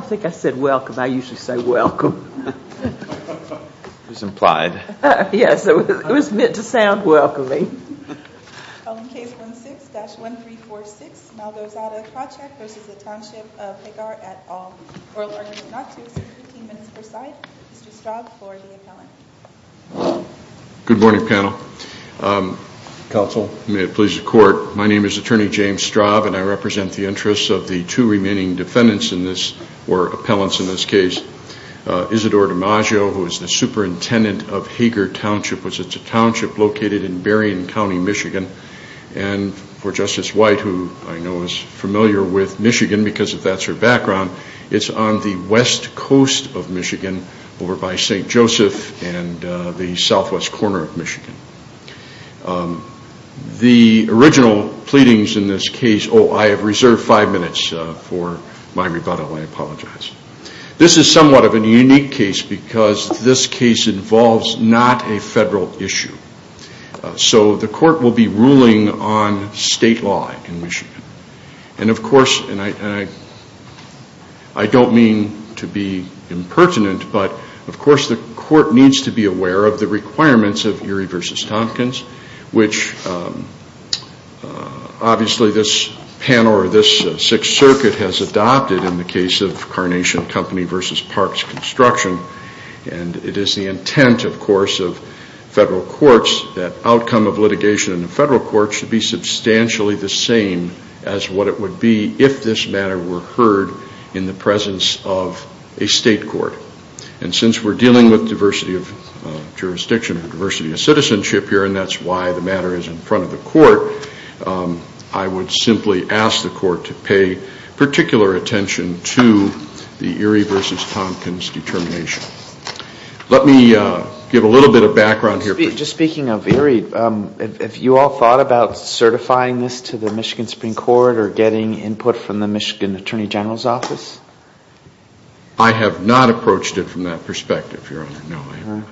Good morning panel, counsel, may it please the court, my name is Attorney James Straub and I represent the interests of the two remaining defendants in this case. Isidore DiMaggio, who is the superintendent of Hagar Township, which is a township located in Berrien County, Michigan. And for Justice White, who I know is familiar with Michigan because of that sort of background, it's on the west coast of Michigan over by St. Joseph and the southwest corner of Michigan. The original pleadings in this case, oh I have reserved five minutes for my rebuttal, I apologize. This is somewhat of a unique case because this case involves not a federal issue. So the court will be ruling on state law in Michigan. And of course, and I don't mean to be impertinent, but of course the court needs to be aware of the requirements of Erie v. Tompkins, which obviously this panel or this Sixth Circuit has adopted in the case of Carnation Company v. Parks Construction. And it is the intent, of course, of federal courts that outcome of litigation in the federal courts should be substantially the same as what it would be if this matter were heard in the presence of a state court. And since we're dealing with diversity of jurisdiction, diversity of citizenship here, and that's why the matter is in front of the court, I would simply ask the court to pay particular attention to the Erie v. Tompkins determination. Let me give a little bit of background here. Just speaking of Erie, have you all thought about certifying this to the Michigan Supreme Court or getting input from the Michigan Attorney General's office? I have not approached it from that perspective, Your Honor. No, I haven't.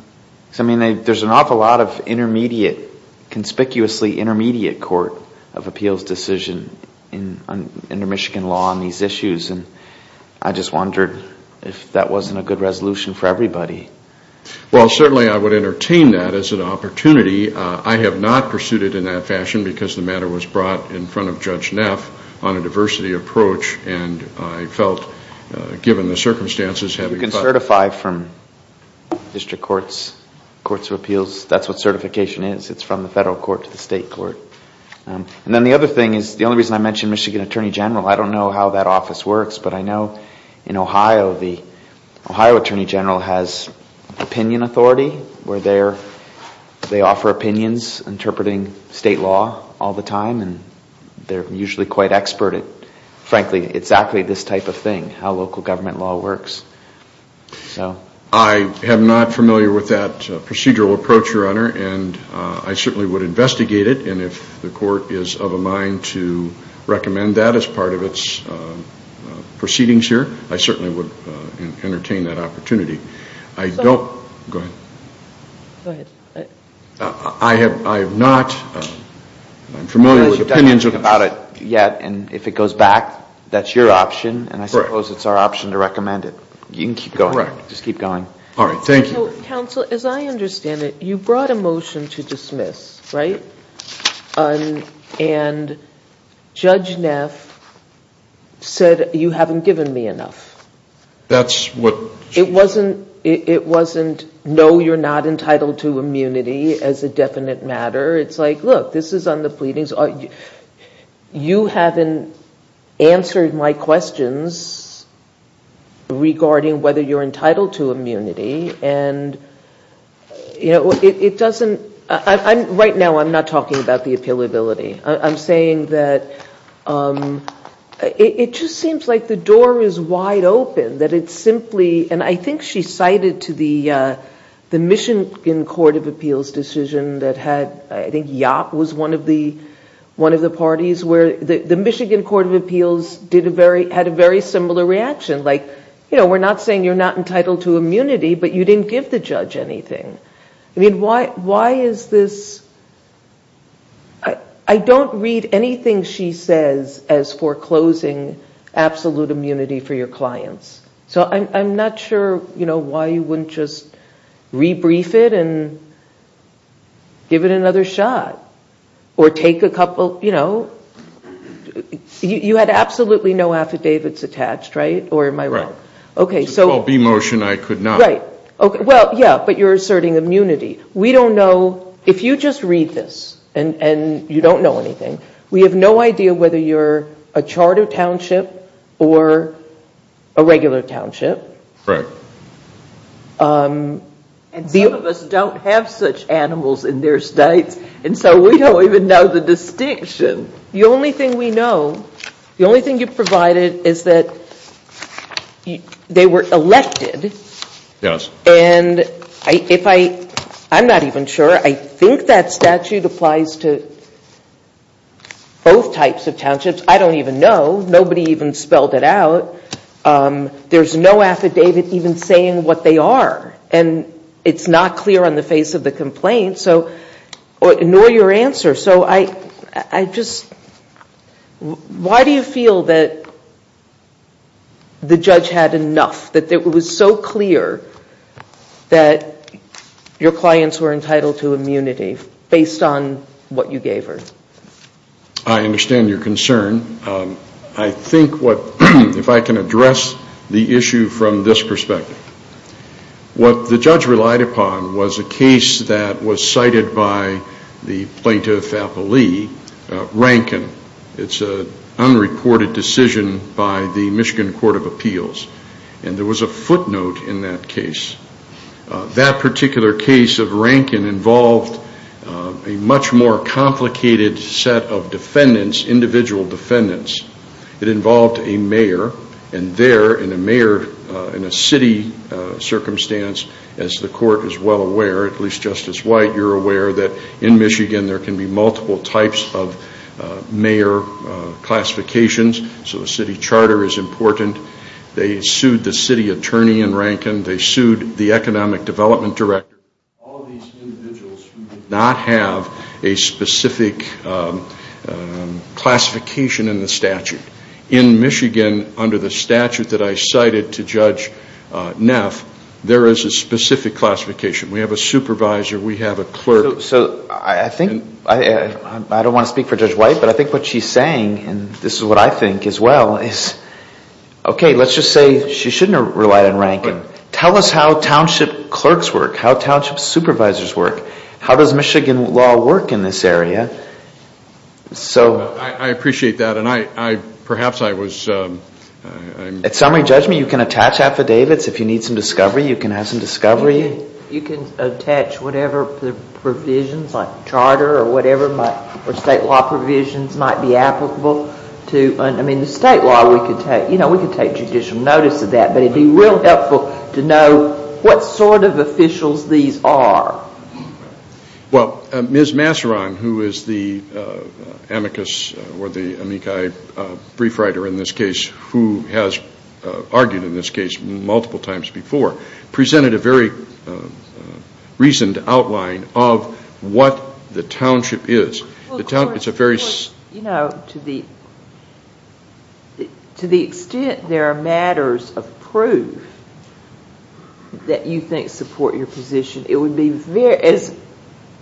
I mean, there's an awful lot of conspicuously intermediate court of appeals decision under Michigan law on these issues, and I just wondered if that wasn't a good resolution for everybody. Well, certainly I would entertain that as an opportunity. I have not pursued it in that fashion because the matter was brought in front of Judge Neff on a diversity approach, and I felt, given the circumstances... You can certify from district courts, courts of appeals. That's what certification is. It's from the federal court to the state court. And then the other thing is, the only reason I mention Michigan Attorney General, I don't know how that office works, but I know in Ohio, the Ohio Attorney General has opinion authority where they offer opinions interpreting state law all the time, and they're usually quite expert at, frankly, exactly this type of thing, how local government law works. I am not familiar with that procedural approach, Your Honor, and I certainly would investigate it, and if the court is of a mind to recommend that as part of its proceedings here, I certainly would entertain that opportunity. Counsel, as I understand it, you brought a motion to dismiss, right? And Judge Neff said, you haven't given me enough. It wasn't, no, you're not entitled to immunity as a definite matter. It's like, look, this is on the pleadings. You haven't answered my questions regarding whether you're entitled to immunity, and it doesn't... Right now, I'm not talking about the appealability. I'm saying that it just seems like the door is wide open, that it's simply, and I think she cited to the Michigan Court of Appeals decision that had, I think Yap was one of the parties where the Michigan Court of Appeals had a very similar reaction. Like, you know, we're not saying you're not entitled to immunity, but you didn't give the judge anything. I mean, why is this... I don't read anything she says as foreclosing absolute immunity for your clients. So I'm not sure, you know, why you wouldn't just rebrief it and give it another shot, or take a couple, you know, you had absolutely no affidavits attached, right? Or am I wrong? And some of us don't have such animals in their states, and so we don't even know the distinction. The only thing we know, the only thing you provided is that they were elected, and if I, I'm not even sure. I think that statute applies to both types of townships. I don't even know. Nobody even spelled it out. There's no affidavit even saying what they are, and it's not clear on the face of the complaint, nor your answer. So I just, why do you feel that the judge had enough, that it was so clear that your clients were entitled to immunity based on what you gave her? I understand your concern. I think what, if I can address the issue from this perspective. What the judge relied upon was a case that was cited by the plaintiff, Rankin. It's an unreported decision by the Michigan Court of Appeals, and there was a footnote in that case. That particular case of Rankin involved a much more complicated set of defendants, individual defendants. It involved a mayor, and there, in a mayor, in a city circumstance, as the court is well aware, at least Justice White, you're aware that in Michigan there can be multiple types of mayor classifications, so a city charter is important. They sued the city attorney in Rankin. They sued the economic development director. All of these individuals who did not have a specific classification in the statute. In Michigan, under the statute that I cited to Judge Neff, there is a specific classification. We have a supervisor. We have a clerk. I don't want to speak for Judge White, but I think what she's saying, and this is what I think as well, is, okay, let's just say she shouldn't have relied on Rankin. Tell us how township clerks work, how township supervisors work. How does Michigan law work in this area? I appreciate that, and perhaps I was... At summary judgment, you can attach affidavits. If you need some discovery, you can have some discovery. You can attach whatever provisions, like charter or whatever, or state law provisions might be applicable. I mean, the state law, we could take judicial notice of that, but it would be real helpful to know what sort of officials these are. Well, Ms. Masseron, who is the amicus or the amici brief writer in this case, who has argued in this case multiple times before, presented a very reasoned outline of what the township is. You know, to the extent there are matters of proof that you think support your position, it would be, as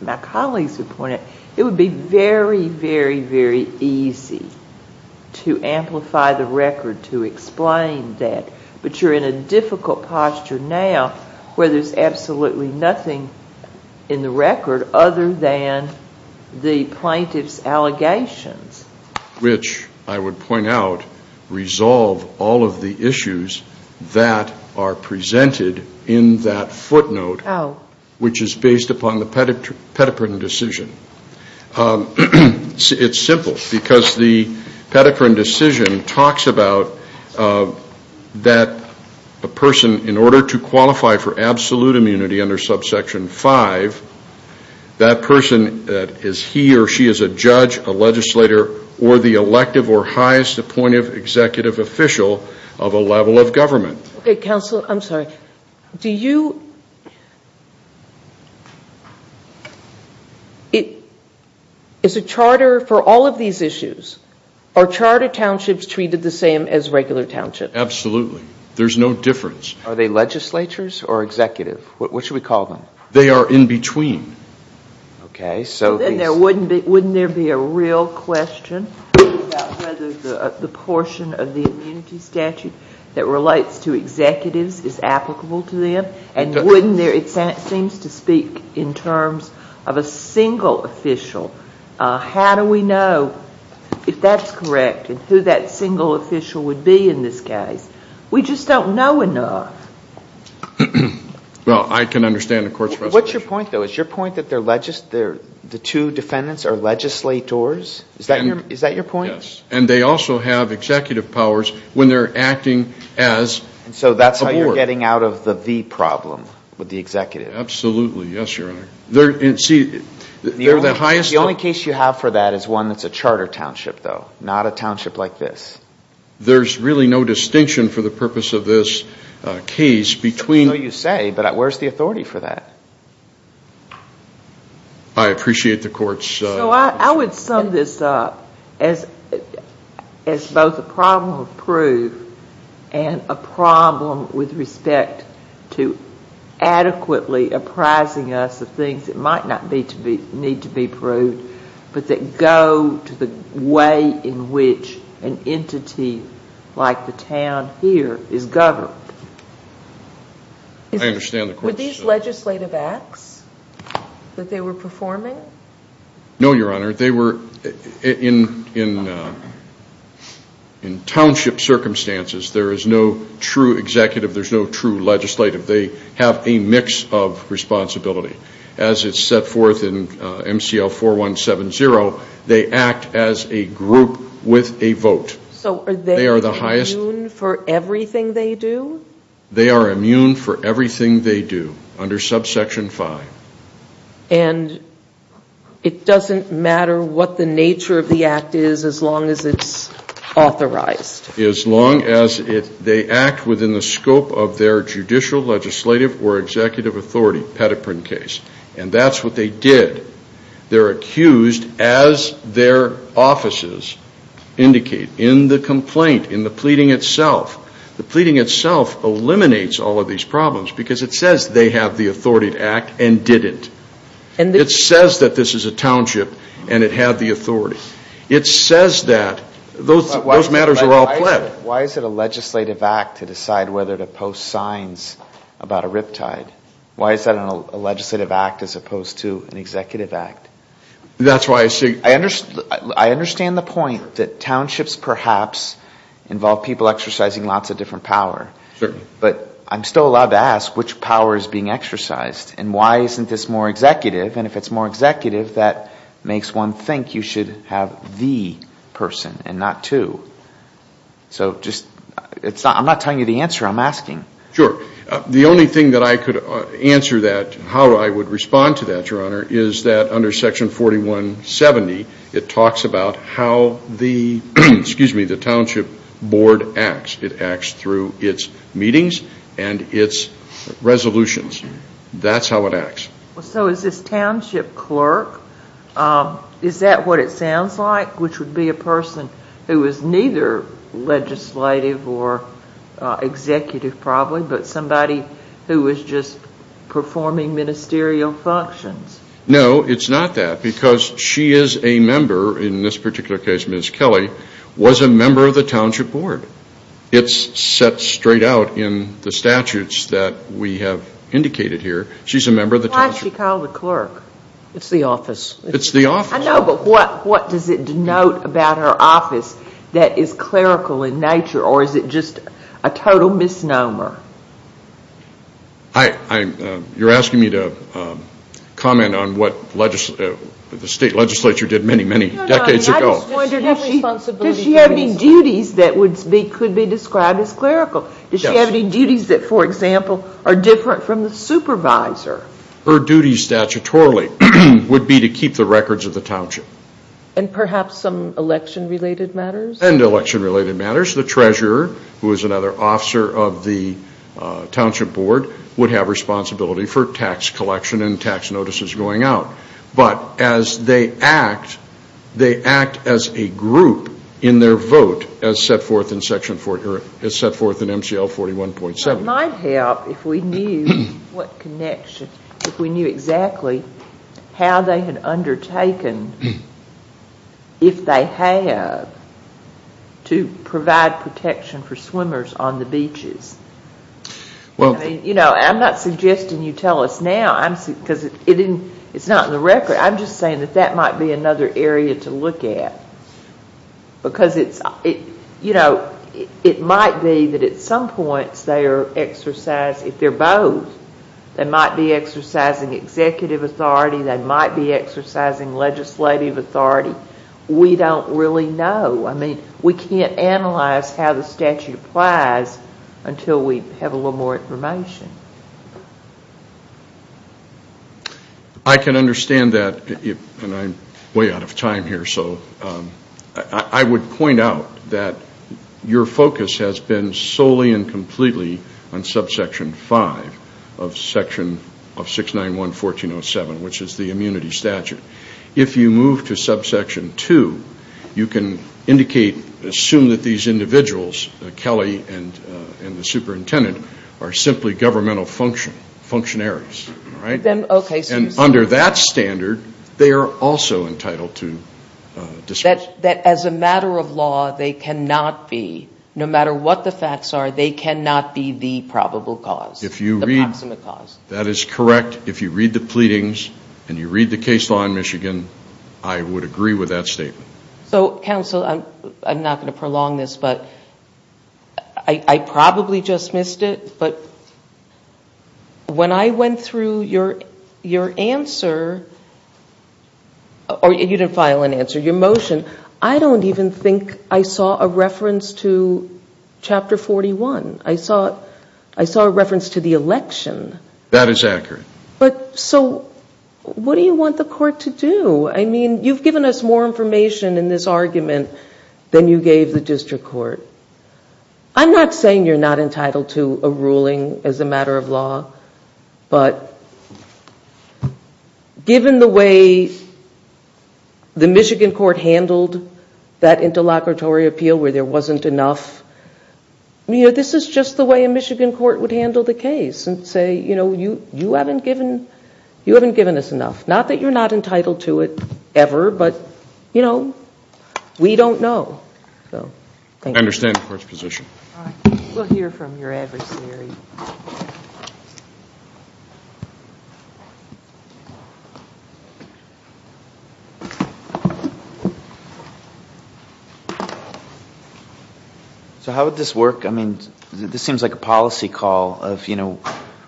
my colleagues have pointed out, it would be very, very, very easy to amplify the record, to explain that. But you're in a difficult posture now, where there's absolutely nothing in the record other than the plaintiff's allegations. Which, I would point out, resolve all of the issues that are presented in that footnote, which is based upon the pedocrine decision. It's simple, because the pedocrine decision talks about that a person, in order to qualify for absolute immunity under subsection 5, that person is he or she is a judge, a legislator, or the elective or highest appointive executive official of a level of government. Okay, counsel, I'm sorry. Is a charter, for all of these issues, are charter townships treated the same as regular townships? Absolutely. There's no difference. Are they legislatures or executive? What should we call them? They are in between. Wouldn't there be a real question about whether the portion of the immunity statute that relates to executives is applicable to them? It seems to speak in terms of a single official. How do we know if that's correct and who that single official would be in this case? We just don't know enough. Well, I can understand the court's resolution. What's your point, though? Is your point that the two defendants are legislators? Is that your point? Yes. And they also have executive powers when they're acting as a board. So that's how you're getting out of the V problem with the executive. Absolutely. Yes, Your Honor. The only case you have for that is one that's a charter township, though, not a township like this. There's really no distinction for the purpose of this case between... I appreciate the court's... So I would sum this up as both a problem of proof and a problem with respect to adequately apprising us of things that might not need to be proved but that go to the way in which an entity like the town here is governed. I understand the court's... Were these legislative acts that they were performing? No, Your Honor. They were in township circumstances. There is no true executive. There's no true legislative. They have a mix of responsibility. As it's set forth in MCL 4170, they act as a group with a vote. So are they immune for everything they do? They are immune for everything they do under subsection 5. And it doesn't matter what the nature of the act is as long as it's authorized? As long as they act within the scope of their judicial, legislative, or executive authority, pedoprine case. And that's what they did. They're accused as their offices indicate in the complaint, in the pleading itself. The pleading itself eliminates all of these problems because it says they have the authority to act and didn't. It says that this is a township and it had the authority. It says that those matters are all pled. Why is it a legislative act to decide whether to post signs about a riptide? Why is that a legislative act as opposed to an executive act? That's why I say... I understand the point that townships perhaps involve people exercising lots of different power. Certainly. But I'm still allowed to ask which power is being exercised. And why isn't this more executive? And if it's more executive, that makes one think you should have the person and not two. So just... I'm not telling you the answer. I'm asking. Sure. The only thing that I could answer that, how I would respond to that, Your Honor, is that under Section 4170, it talks about how the township board acts. It acts through its meetings and its resolutions. That's how it acts. So is this township clerk, is that what it sounds like, which would be a person who is neither legislative or executive, probably, but somebody who is just performing ministerial functions? No, it's not that, because she is a member, in this particular case, Ms. Kelly, was a member of the township board. It's set straight out in the statutes that we have indicated here. She's a member of the township board. Why is she called a clerk? It's the office. It's the office. I know, but what does it denote about her office that is clerical in nature, or is it just a total misnomer? You're asking me to comment on what the state legislature did many, many decades ago. No, no. I just wonder, does she have any duties that could be described as clerical? Does she have any duties that, for example, are different from the supervisor? Her duty statutorily would be to keep the records of the township. And perhaps some election-related matters? And election-related matters. The treasurer, who is another officer of the township board, would have responsibility for tax collection and tax notices going out. But as they act, they act as a group in their vote, as set forth in MCL 41.7. It might help if we knew what connection, if we knew exactly how they had undertaken, if they have, to provide protection for swimmers on the beaches. I'm not suggesting you tell us now because it's not in the record. I'm just saying that that might be another area to look at because it might be that at some points they are exercising, if they're both, they might be exercising executive authority, they might be exercising legislative authority. We don't really know. We can't analyze how the statute applies until we have a little more information. I can understand that, and I'm way out of time here, so I would point out that your focus has been solely and completely on subsection 5 of section 691.1407, which is the immunity statute. If you move to subsection 2, you can indicate, assume that these individuals, Kelly and the superintendent, are simply governmental functionaries. And under that standard, they are also entitled to discretion. As a matter of law, they cannot be, no matter what the facts are, they cannot be the probable cause, the proximate cause. That is correct. If you read the pleadings and you read the case law in Michigan, I would agree with that statement. So, counsel, I'm not going to prolong this, but I probably just missed it, but when I went through your answer, or you didn't file an answer, your motion, I don't even think I saw a reference to Chapter 41. I saw a reference to the election. That is accurate. So what do you want the court to do? I mean, you've given us more information in this argument than you gave the district court. I'm not saying you're not entitled to a ruling as a matter of law, but given the way the Michigan court handled that interlocutory appeal where there wasn't enough, this is just the way a Michigan court would handle the case and say, you know, you haven't given us enough. Not that you're not entitled to it ever, but, you know, we don't know. I understand the court's position. We'll hear from your adversary. So how would this work? I mean, this seems like a policy call of, you know,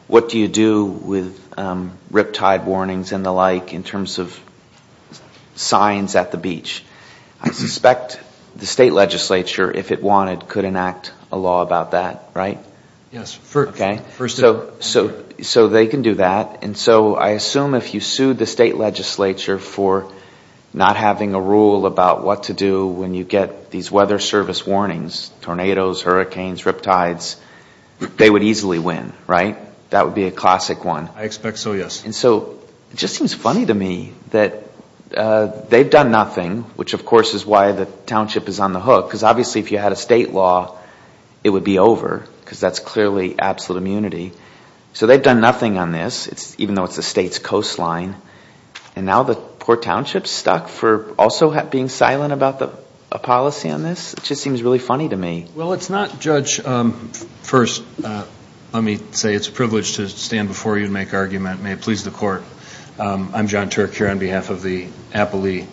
what do you do with riptide warnings and the like in terms of signs at the beach. I suspect the state legislature, if it wanted, could enact a law about that, right? Yes. Okay. So they can do that. And so I assume if you sued the state legislature for not having a rule about what to do when you get these weather service warnings, tornadoes, hurricanes, riptides, they would easily win, right? That would be a classic one. I expect so, yes. And so it just seems funny to me that they've done nothing, which of course is why the township is on the hook, because obviously if you had a state law, it would be over, because that's clearly absolute immunity. So they've done nothing on this, even though it's the state's coastline. And now the poor township is stuck for also being silent about a policy on this? It just seems really funny to me. Well, it's not, Judge. First, let me say it's a privilege to stand before you and make an argument. May it please the Court. I'm John Turk here on behalf of the Appalee.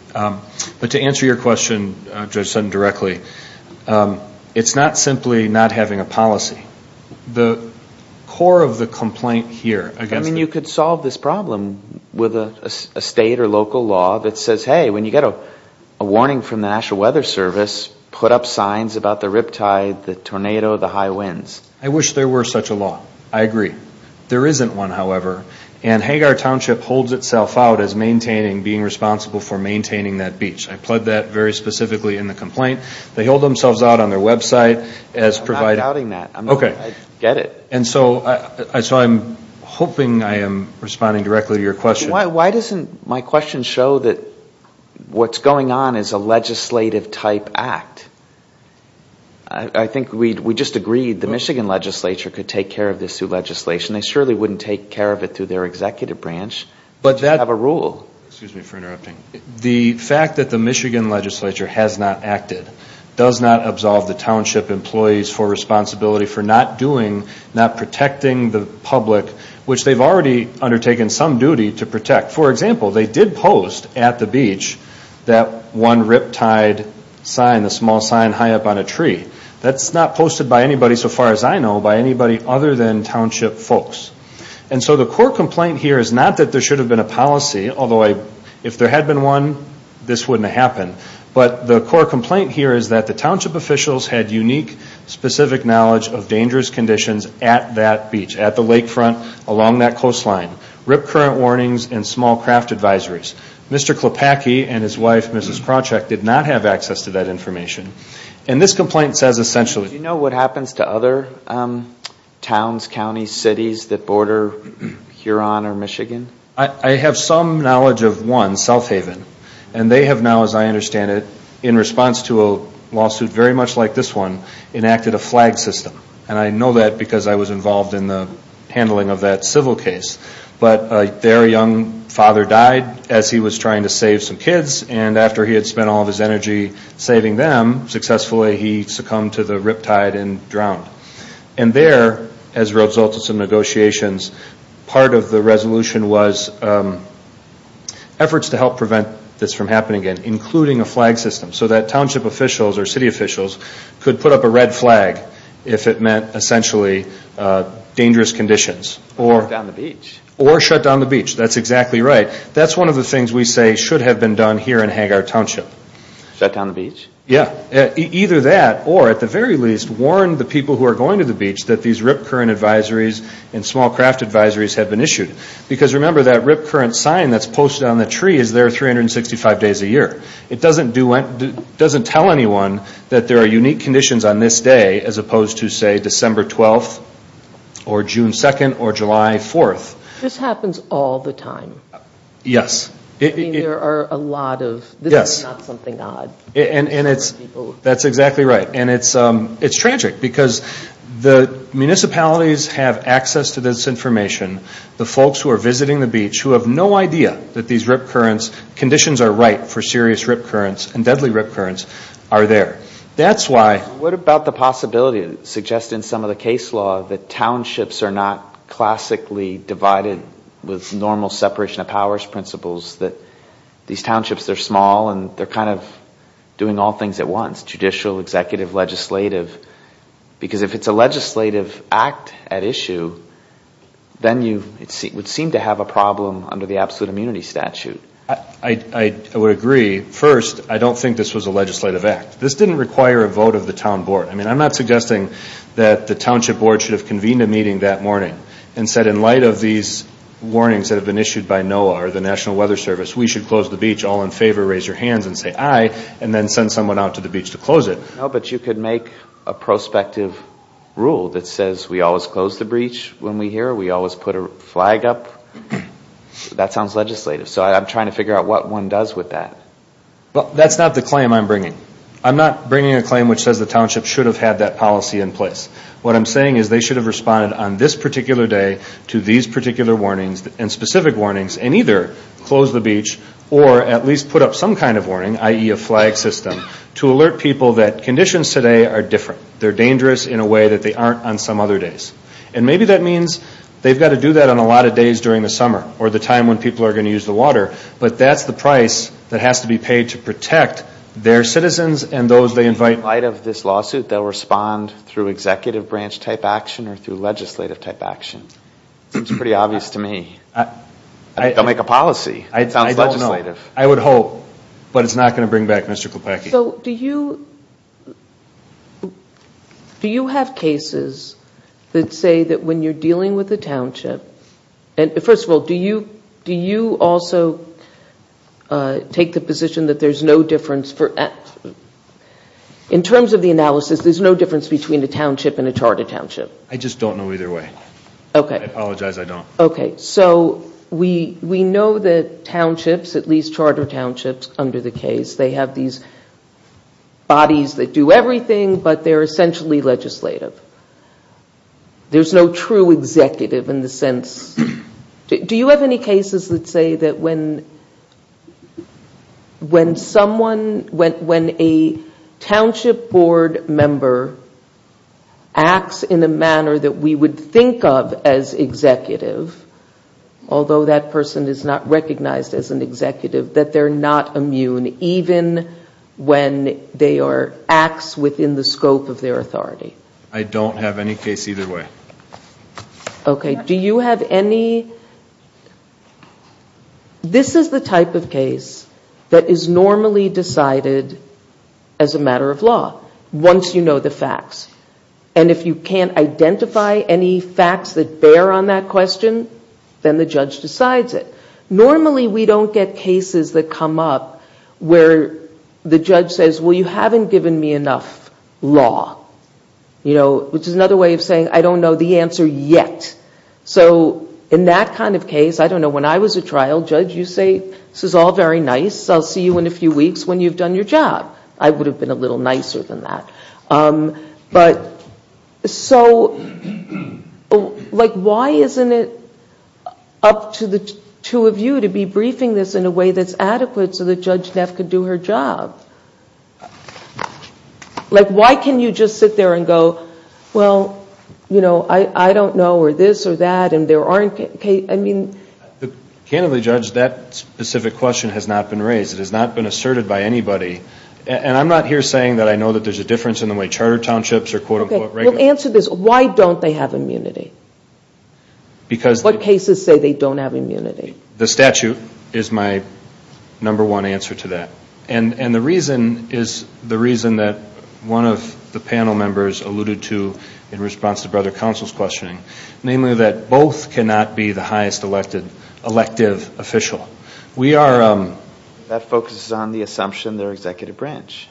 But to answer your question, Judge Sutton, directly, it's not simply not having a policy. The core of the complaint here against the court... I mean, you could solve this problem with a state or local law that says, hey, when you get a warning from the National Weather Service, put up signs about the riptide, the tornado, the high winds. I wish there were such a law. I agree. There isn't one, however. And Hagar Township holds itself out as maintaining, being responsible for maintaining that beach. I pled that very specifically in the complaint. They hold themselves out on their website as providing... I'm not doubting that. Okay. I get it. And so I'm hoping I am responding directly to your question. Why doesn't my question show that what's going on is a legislative-type act? I think we just agreed the Michigan legislature could take care of this through legislation. They surely wouldn't take care of it through their executive branch. They have a rule. Excuse me for interrupting. The fact that the Michigan legislature has not acted, does not absolve the township employees for responsibility for not doing, not protecting the public, which they've already undertaken some duty to protect. For example, they did post at the beach that one riptide sign, the small sign high up on a tree. That's not posted by anybody, so far as I know, by anybody other than township folks. And so the core complaint here is not that there should have been a policy, although if there had been one, this wouldn't have happened. But the core complaint here is that the township officials had unique, specific knowledge of dangerous conditions at that beach, at the lakefront, along that coastline, rip current warnings and small craft advisories. Mr. Klopacky and his wife, Mrs. Krawcheck, did not have access to that information. And this complaint says essentially... Do you know what happens to other towns, counties, cities that border Huron or Michigan? I have some knowledge of one, South Haven. And they have now, as I understand it, in response to a lawsuit very much like this one, enacted a flag system. And I know that because I was involved in the handling of that civil case. But their young father died as he was trying to save some kids, and after he had spent all of his energy saving them, successfully he succumbed to the riptide and drowned. And there, as a result of some negotiations, part of the resolution was efforts to help prevent this from happening again, including a flag system so that township officials or city officials could put up a red flag if it meant essentially dangerous conditions. Or shut down the beach. Or shut down the beach. That's exactly right. That's one of the things we say should have been done here in Hangar Township. Shut down the beach? Yeah. Either that or, at the very least, warn the people who are going to the beach that these rip current advisories and small craft advisories have been issued. Because, remember, that rip current sign that's posted on the tree is there 365 days a year. It doesn't tell anyone that there are unique conditions on this day, as opposed to, say, December 12th or June 2nd or July 4th. This happens all the time. Yes. I mean, there are a lot of, this is not something odd. That's exactly right. And it's tragic because the municipalities have access to this information. The folks who are visiting the beach who have no idea that these rip currents, conditions are right for serious rip currents and deadly rip currents, are there. That's why. What about the possibility, suggested in some of the case law, that townships are not classically divided with normal separation of powers principles, that these townships are small and they're kind of doing all things at once, judicial, executive, legislative. Because if it's a legislative act at issue, then you would seem to have a problem under the absolute immunity statute. I would agree. First, I don't think this was a legislative act. This didn't require a vote of the town board. I mean, I'm not suggesting that the township board should have convened a meeting that morning and said in light of these warnings that have been issued by NOAA or the National Weather Service, we should close the beach. All in favor, raise your hands and say aye. And then send someone out to the beach to close it. No, but you could make a prospective rule that says we always close the beach when we're here. We always put a flag up. That sounds legislative. So I'm trying to figure out what one does with that. That's not the claim I'm bringing. I'm not bringing a claim which says the township should have had that policy in place. What I'm saying is they should have responded on this particular day to these particular warnings and either close the beach or at least put up some kind of warning, i.e., a flag system, to alert people that conditions today are different. They're dangerous in a way that they aren't on some other days. And maybe that means they've got to do that on a lot of days during the summer or the time when people are going to use the water, but that's the price that has to be paid to protect their citizens and those they invite. In light of this lawsuit, they'll respond through executive branch-type action or through legislative-type action? It seems pretty obvious to me. They'll make a policy. It sounds legislative. I don't know. I would hope. But it's not going to bring back Mr. Klepecki. So do you have cases that say that when you're dealing with a township, first of all, do you also take the position that there's no difference? In terms of the analysis, there's no difference between a township and a chartered township? I just don't know either way. I apologize. I don't. Okay. So we know that townships, at least chartered townships under the case, they have these bodies that do everything, but they're essentially legislative. There's no true executive in the sense. Do you have any cases that say that when someone, when a township board member acts in a manner that we would think of as executive, although that person is not recognized as an executive, that they're not immune even when they are acts within the scope of their authority? I don't have any case either way. Okay. Do you have any? This is the type of case that is normally decided as a matter of law once you know the facts. And if you can't identify any facts that bear on that question, then the judge decides it. Normally we don't get cases that come up where the judge says, well, you haven't given me enough law, which is another way of saying I don't know the answer yet. So in that kind of case, I don't know. When I was a trial judge, you say, this is all very nice. I'll see you in a few weeks when you've done your job. I would have been a little nicer than that. But so like why isn't it up to the two of you to be briefing this in a way that's adequate so that Judge Neff could do her job? Like why can you just sit there and go, well, you know, I don't know, or this or that, and there aren't cases. I mean. Candidly, Judge, that specific question has not been raised. It has not been asserted by anybody. And I'm not here saying that I know that there's a difference in the way charter townships are quote-unquote regulated. Okay. Well, answer this. Why don't they have immunity? Because. What cases say they don't have immunity? The statute is my number one answer to that. And the reason is the reason that one of the panel members alluded to in response to Brother Counsel's questioning, namely that both cannot be the highest elected elective official. We are. That focuses on the assumption they're executive branch,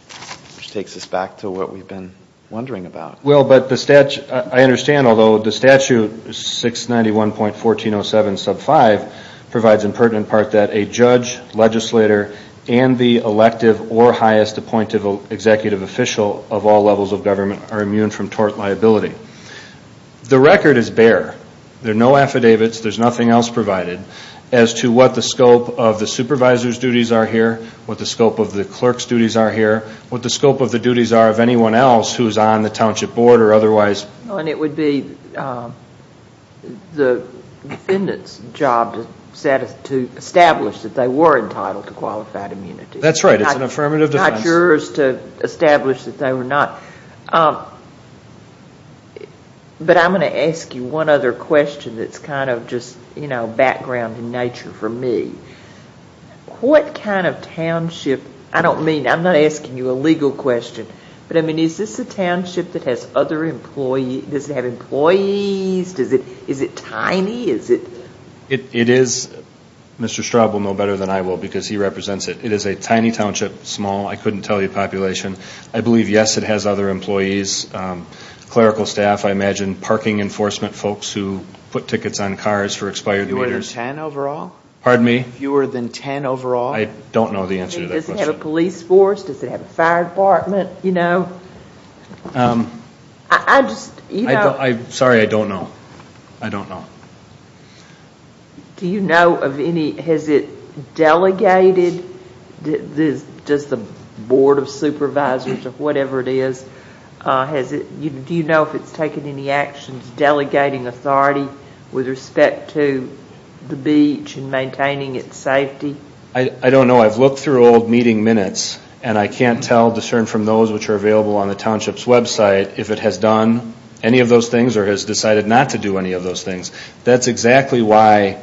which takes us back to what we've been wondering about. Well, but the statute. I understand, although the statute 691.1407 sub 5 provides in pertinent part that a judge, legislator, and the elective or highest appointed executive official of all levels of government are immune from tort liability. The record is bare. There are no affidavits. There's nothing else provided as to what the scope of the supervisor's duties are here, what the scope of the clerk's duties are here, what the scope of the duties are of anyone else who's on the township board or otherwise. And it would be the defendant's job to establish that they were entitled to qualified immunity. That's right. It's an affirmative defense. Not yours to establish that they were not. But I'm going to ask you one other question that's kind of just, you know, background in nature for me. What kind of township, I don't mean, I'm not asking you a legal question, but, I mean, is this a township that has other employees, does it have employees, is it tiny, is it? It is. Mr. Straub will know better than I will because he represents it. It is a tiny township, small, I couldn't tell you population. I believe, yes, it has other employees, clerical staff, I imagine, parking enforcement folks who put tickets on cars for expired meters. Fewer than ten overall? Pardon me? Fewer than ten overall? I don't know the answer to that question. Does it have a police force? Does it have a fire department, you know? I just, you know. Sorry, I don't know. I don't know. Do you know of any, has it delegated, does the board of supervisors or whatever it is, do you know if it's taken any actions delegating authority with respect to the beach and maintaining its safety? I don't know. I've looked through old meeting minutes and I can't tell, discern from those which are available on the township's website, if it has done any of those things or has decided not to do any of those things. That's exactly why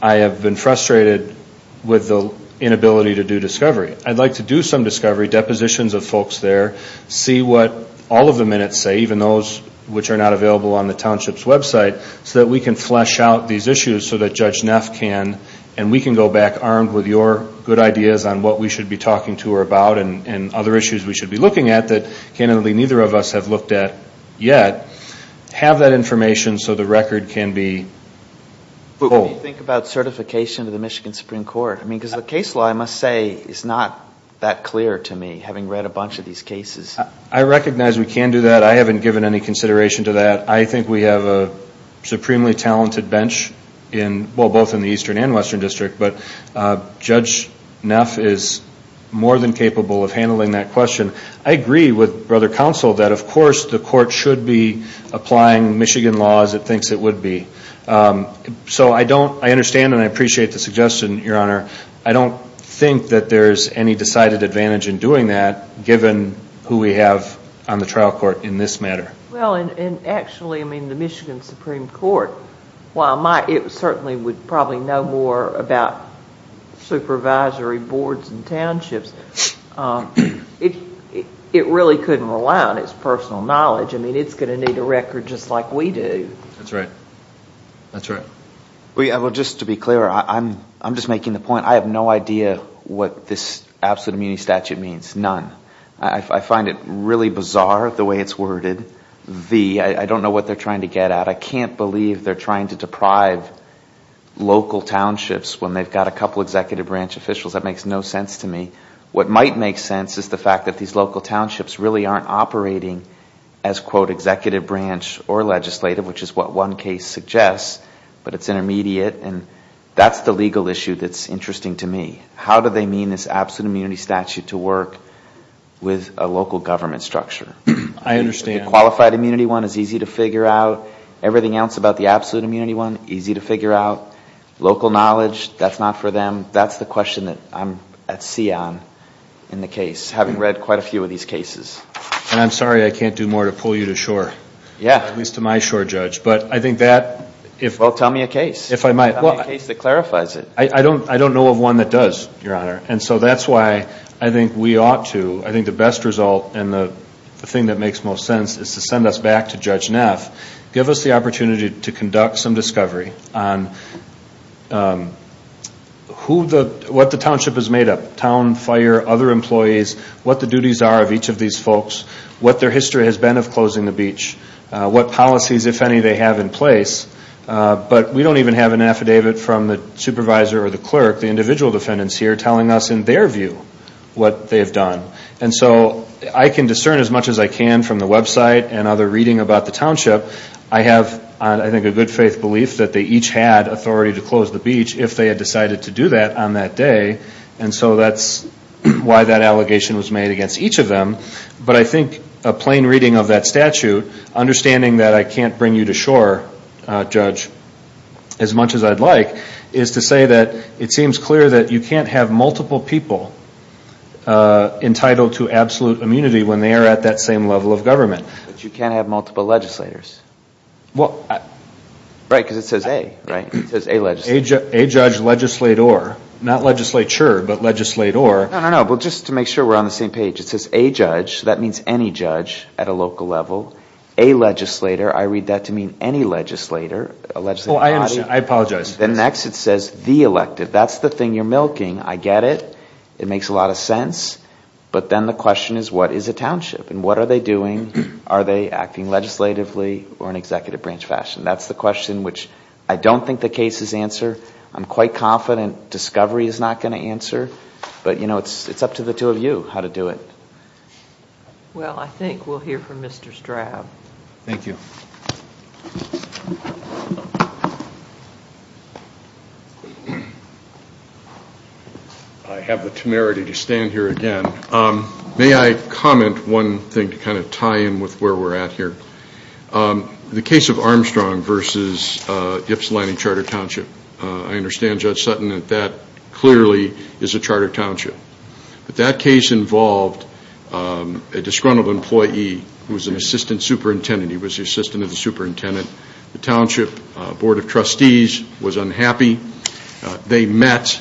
I have been frustrated with the inability to do discovery. I'd like to do some discovery, depositions of folks there, see what all of the minutes say, even those which are not available on the township's website, so that we can flesh out these issues so that Judge Neff can, and we can go back armed with your good ideas on what we should be talking to her about and other issues we should be looking at that, candidly, neither of us have looked at yet, have that information so the record can be pulled. What do you think about certification of the Michigan Supreme Court? Because the case law, I must say, is not that clear to me, having read a bunch of these cases. I recognize we can do that. I haven't given any consideration to that. I think we have a supremely talented bench, well, both in the Eastern and Western District, but Judge Neff is more than capable of handling that question. I agree with Brother Counsel that, of course, the court should be applying Michigan law as it thinks it would be. So I understand and I appreciate the suggestion, Your Honor. I don't think that there's any decided advantage in doing that, given who we have on the trial court in this matter. Well, and actually, I mean, the Michigan Supreme Court, while it certainly would probably know more about supervisory boards and townships, it really couldn't rely on its personal knowledge. I mean, it's going to need a record just like we do. That's right. That's right. Well, just to be clear, I'm just making the point I have no idea what this absolute immunity statute means, none. I find it really bizarre the way it's worded. I don't know what they're trying to get at. I can't believe they're trying to deprive local townships when they've got a couple executive branch officials. That makes no sense to me. What might make sense is the fact that these local townships really aren't operating as, quote, legislative, which is what one case suggests, but it's intermediate, and that's the legal issue that's interesting to me. How do they mean this absolute immunity statute to work with a local government structure? I understand. The qualified immunity one is easy to figure out. Everything else about the absolute immunity one, easy to figure out. Local knowledge, that's not for them. That's the question that I'm at sea on in the case, having read quite a few of these cases. And I'm sorry I can't do more to pull you to shore, at least to my shore, Judge, but I think that if- Well, tell me a case. If I might. Tell me a case that clarifies it. I don't know of one that does, Your Honor, and so that's why I think we ought to, I think the best result and the thing that makes most sense is to send us back to Judge Neff, give us the opportunity to conduct some discovery on what the township is made of, town, fire, other employees, what the duties are of each of these folks, what their history has been of closing the beach, what policies, if any, they have in place. But we don't even have an affidavit from the supervisor or the clerk, the individual defendants here, telling us in their view what they have done. And so I can discern as much as I can from the website and other reading about the township. I have, I think, a good faith belief that they each had authority to close the beach if they had decided to do that on that day. And so that's why that allegation was made against each of them. But I think a plain reading of that statute, understanding that I can't bring you to shore, Judge, as much as I'd like, is to say that it seems clear that you can't have multiple people entitled to absolute immunity when they are at that same level of government. But you can't have multiple legislators. Well, I... Right, because it says A, right? It says A legislator. A judge legislator. Not legislature, but legislator. No, no, no. But just to make sure we're on the same page. It says A judge. That means any judge at a local level. A legislator. I read that to mean any legislator. A legislative body. Oh, I understand. I apologize. Then next it says the elective. That's the thing you're milking. I get it. It makes a lot of sense. But then the question is what is a township? And what are they doing? Are they acting legislatively or in executive branch fashion? That's the question which I don't think the cases answer. I'm quite confident discovery is not going to answer. But, you know, it's up to the two of you how to do it. Well, I think we'll hear from Mr. Straub. Thank you. I have the temerity to stand here again. May I comment one thing to kind of tie in with where we're at here? The case of Armstrong versus Ypsilanti Charter Township. I understand, Judge Sutton, that that clearly is a charter township. But that case involved a disgruntled employee who was an assistant superintendent. He was the assistant of the superintendent. The township board of trustees was unhappy. They met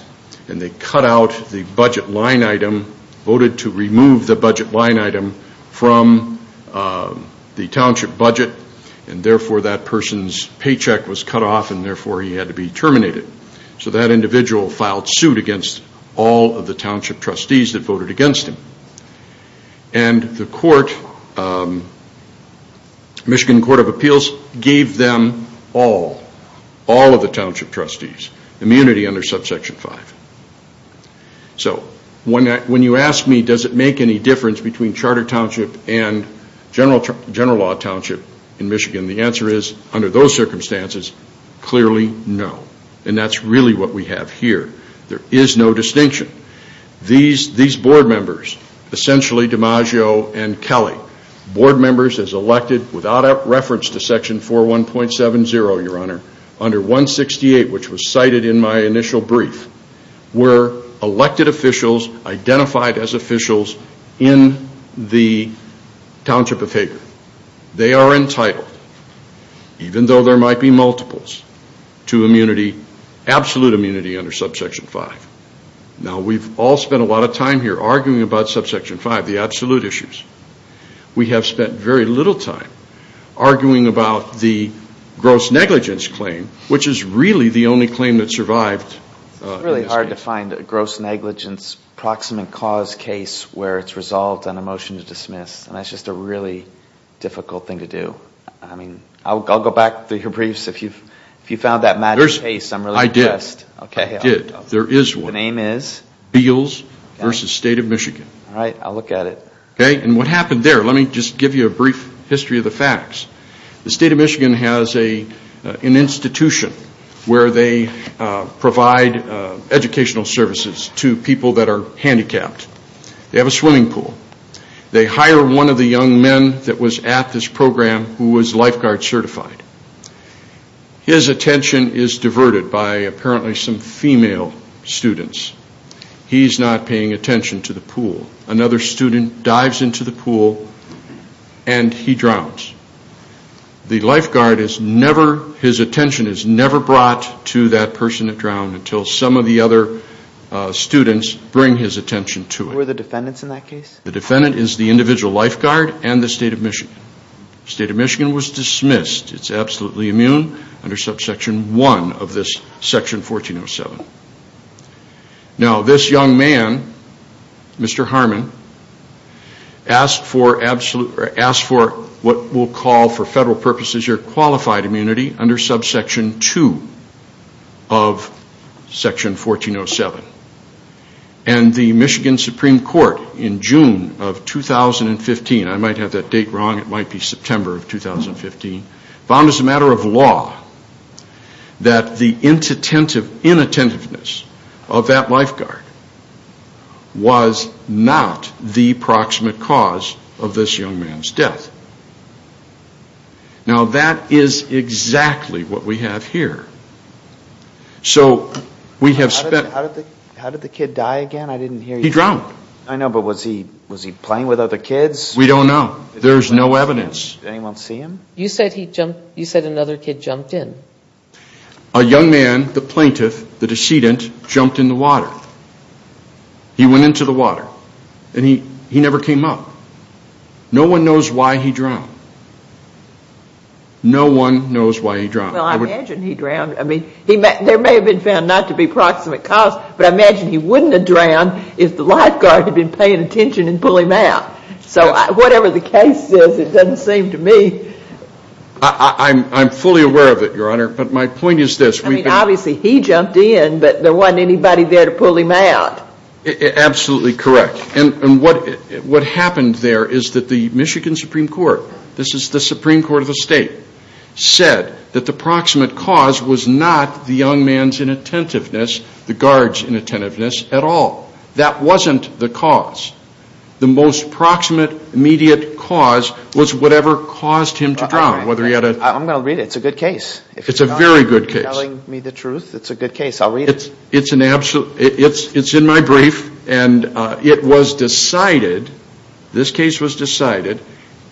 and they cut out the budget line item, voted to remove the budget line item from the township budget, and therefore that person's paycheck was cut off, and therefore he had to be terminated. So that individual filed suit against all of the township trustees that voted against him. And the court, Michigan Court of Appeals, gave them all, all of the township trustees, immunity under Subsection 5. So when you ask me does it make any difference between charter township and general law township in Michigan, the answer is, under those circumstances, clearly no. And that's really what we have here. There is no distinction. These board members, essentially DiMaggio and Kelly, under 168, which was cited in my initial brief, were elected officials, identified as officials, in the township of Hager. They are entitled, even though there might be multiples, to absolute immunity under Subsection 5. Now we've all spent a lot of time here arguing about Subsection 5, the absolute issues. We have spent very little time arguing about the gross negligence claim, which is really the only claim that survived. It's really hard to find a gross negligence proximate cause case where it's resolved on a motion to dismiss. And that's just a really difficult thing to do. I mean, I'll go back through your briefs. If you found that magic case, I'm really impressed. I did. There is one. The name is? Beals v. State of Michigan. All right, I'll look at it. Okay, and what happened there? Let me just give you a brief history of the facts. The State of Michigan has an institution where they provide educational services to people that are handicapped. They have a swimming pool. They hire one of the young men that was at this program who was lifeguard certified. His attention is diverted by apparently some female students. He's not paying attention to the pool. Another student dives into the pool, and he drowns. The lifeguard, his attention is never brought to that person that drowned until some of the other students bring his attention to it. Who are the defendants in that case? The defendant is the individual lifeguard and the State of Michigan. The State of Michigan was dismissed. It's absolutely immune under subsection 1 of this section 1407. Now, this young man, Mr. Harmon, asked for what we'll call for federal purposes your qualified immunity under subsection 2 of section 1407. And the Michigan Supreme Court in June of 2015, I might have that date wrong, it might be September of 2015, found as a matter of law that the inattentiveness of that lifeguard was not the proximate cause of this young man's death. Now, that is exactly what we have here. So we have spent... How did the kid die again? He drowned. I know, but was he playing with other kids? We don't know. There's no evidence. Did anyone see him? You said another kid jumped in. A young man, the plaintiff, the decedent, jumped in the water. He went into the water. And he never came up. No one knows why he drowned. No one knows why he drowned. Well, I imagine he drowned. I mean, there may have been found not to be proximate cause, but I imagine he wouldn't have drowned if the lifeguard had been paying attention and pulling him out. So whatever the case is, it doesn't seem to me... I'm fully aware of it, Your Honor, but my point is this. I mean, obviously he jumped in, but there wasn't anybody there to pull him out. Absolutely correct. And what happened there is that the Michigan Supreme Court, this is the Supreme Court of the state, said that the proximate cause was not the young man's inattentiveness, the guard's inattentiveness, at all. That wasn't the cause. The most proximate immediate cause was whatever caused him to drown, whether he had a... I'm going to read it. It's a good case. It's a very good case. If you're not telling me the truth, it's a good case. I'll read it. It's in my brief, and it was decided, this case was decided,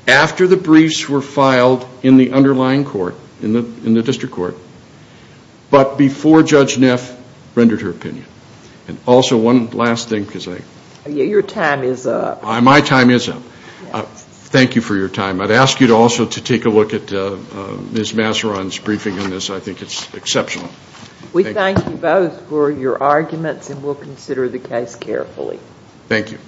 after the briefs were filed in the underlying court, in the district court, but before Judge Neff rendered her opinion. And also, one last thing, because I... Your time is up. My time is up. Thank you for your time. I'd ask you also to take a look at Ms. Masseron's briefing on this. I think it's exceptional. We thank you both for your arguments, and we'll consider the case carefully. Thank you.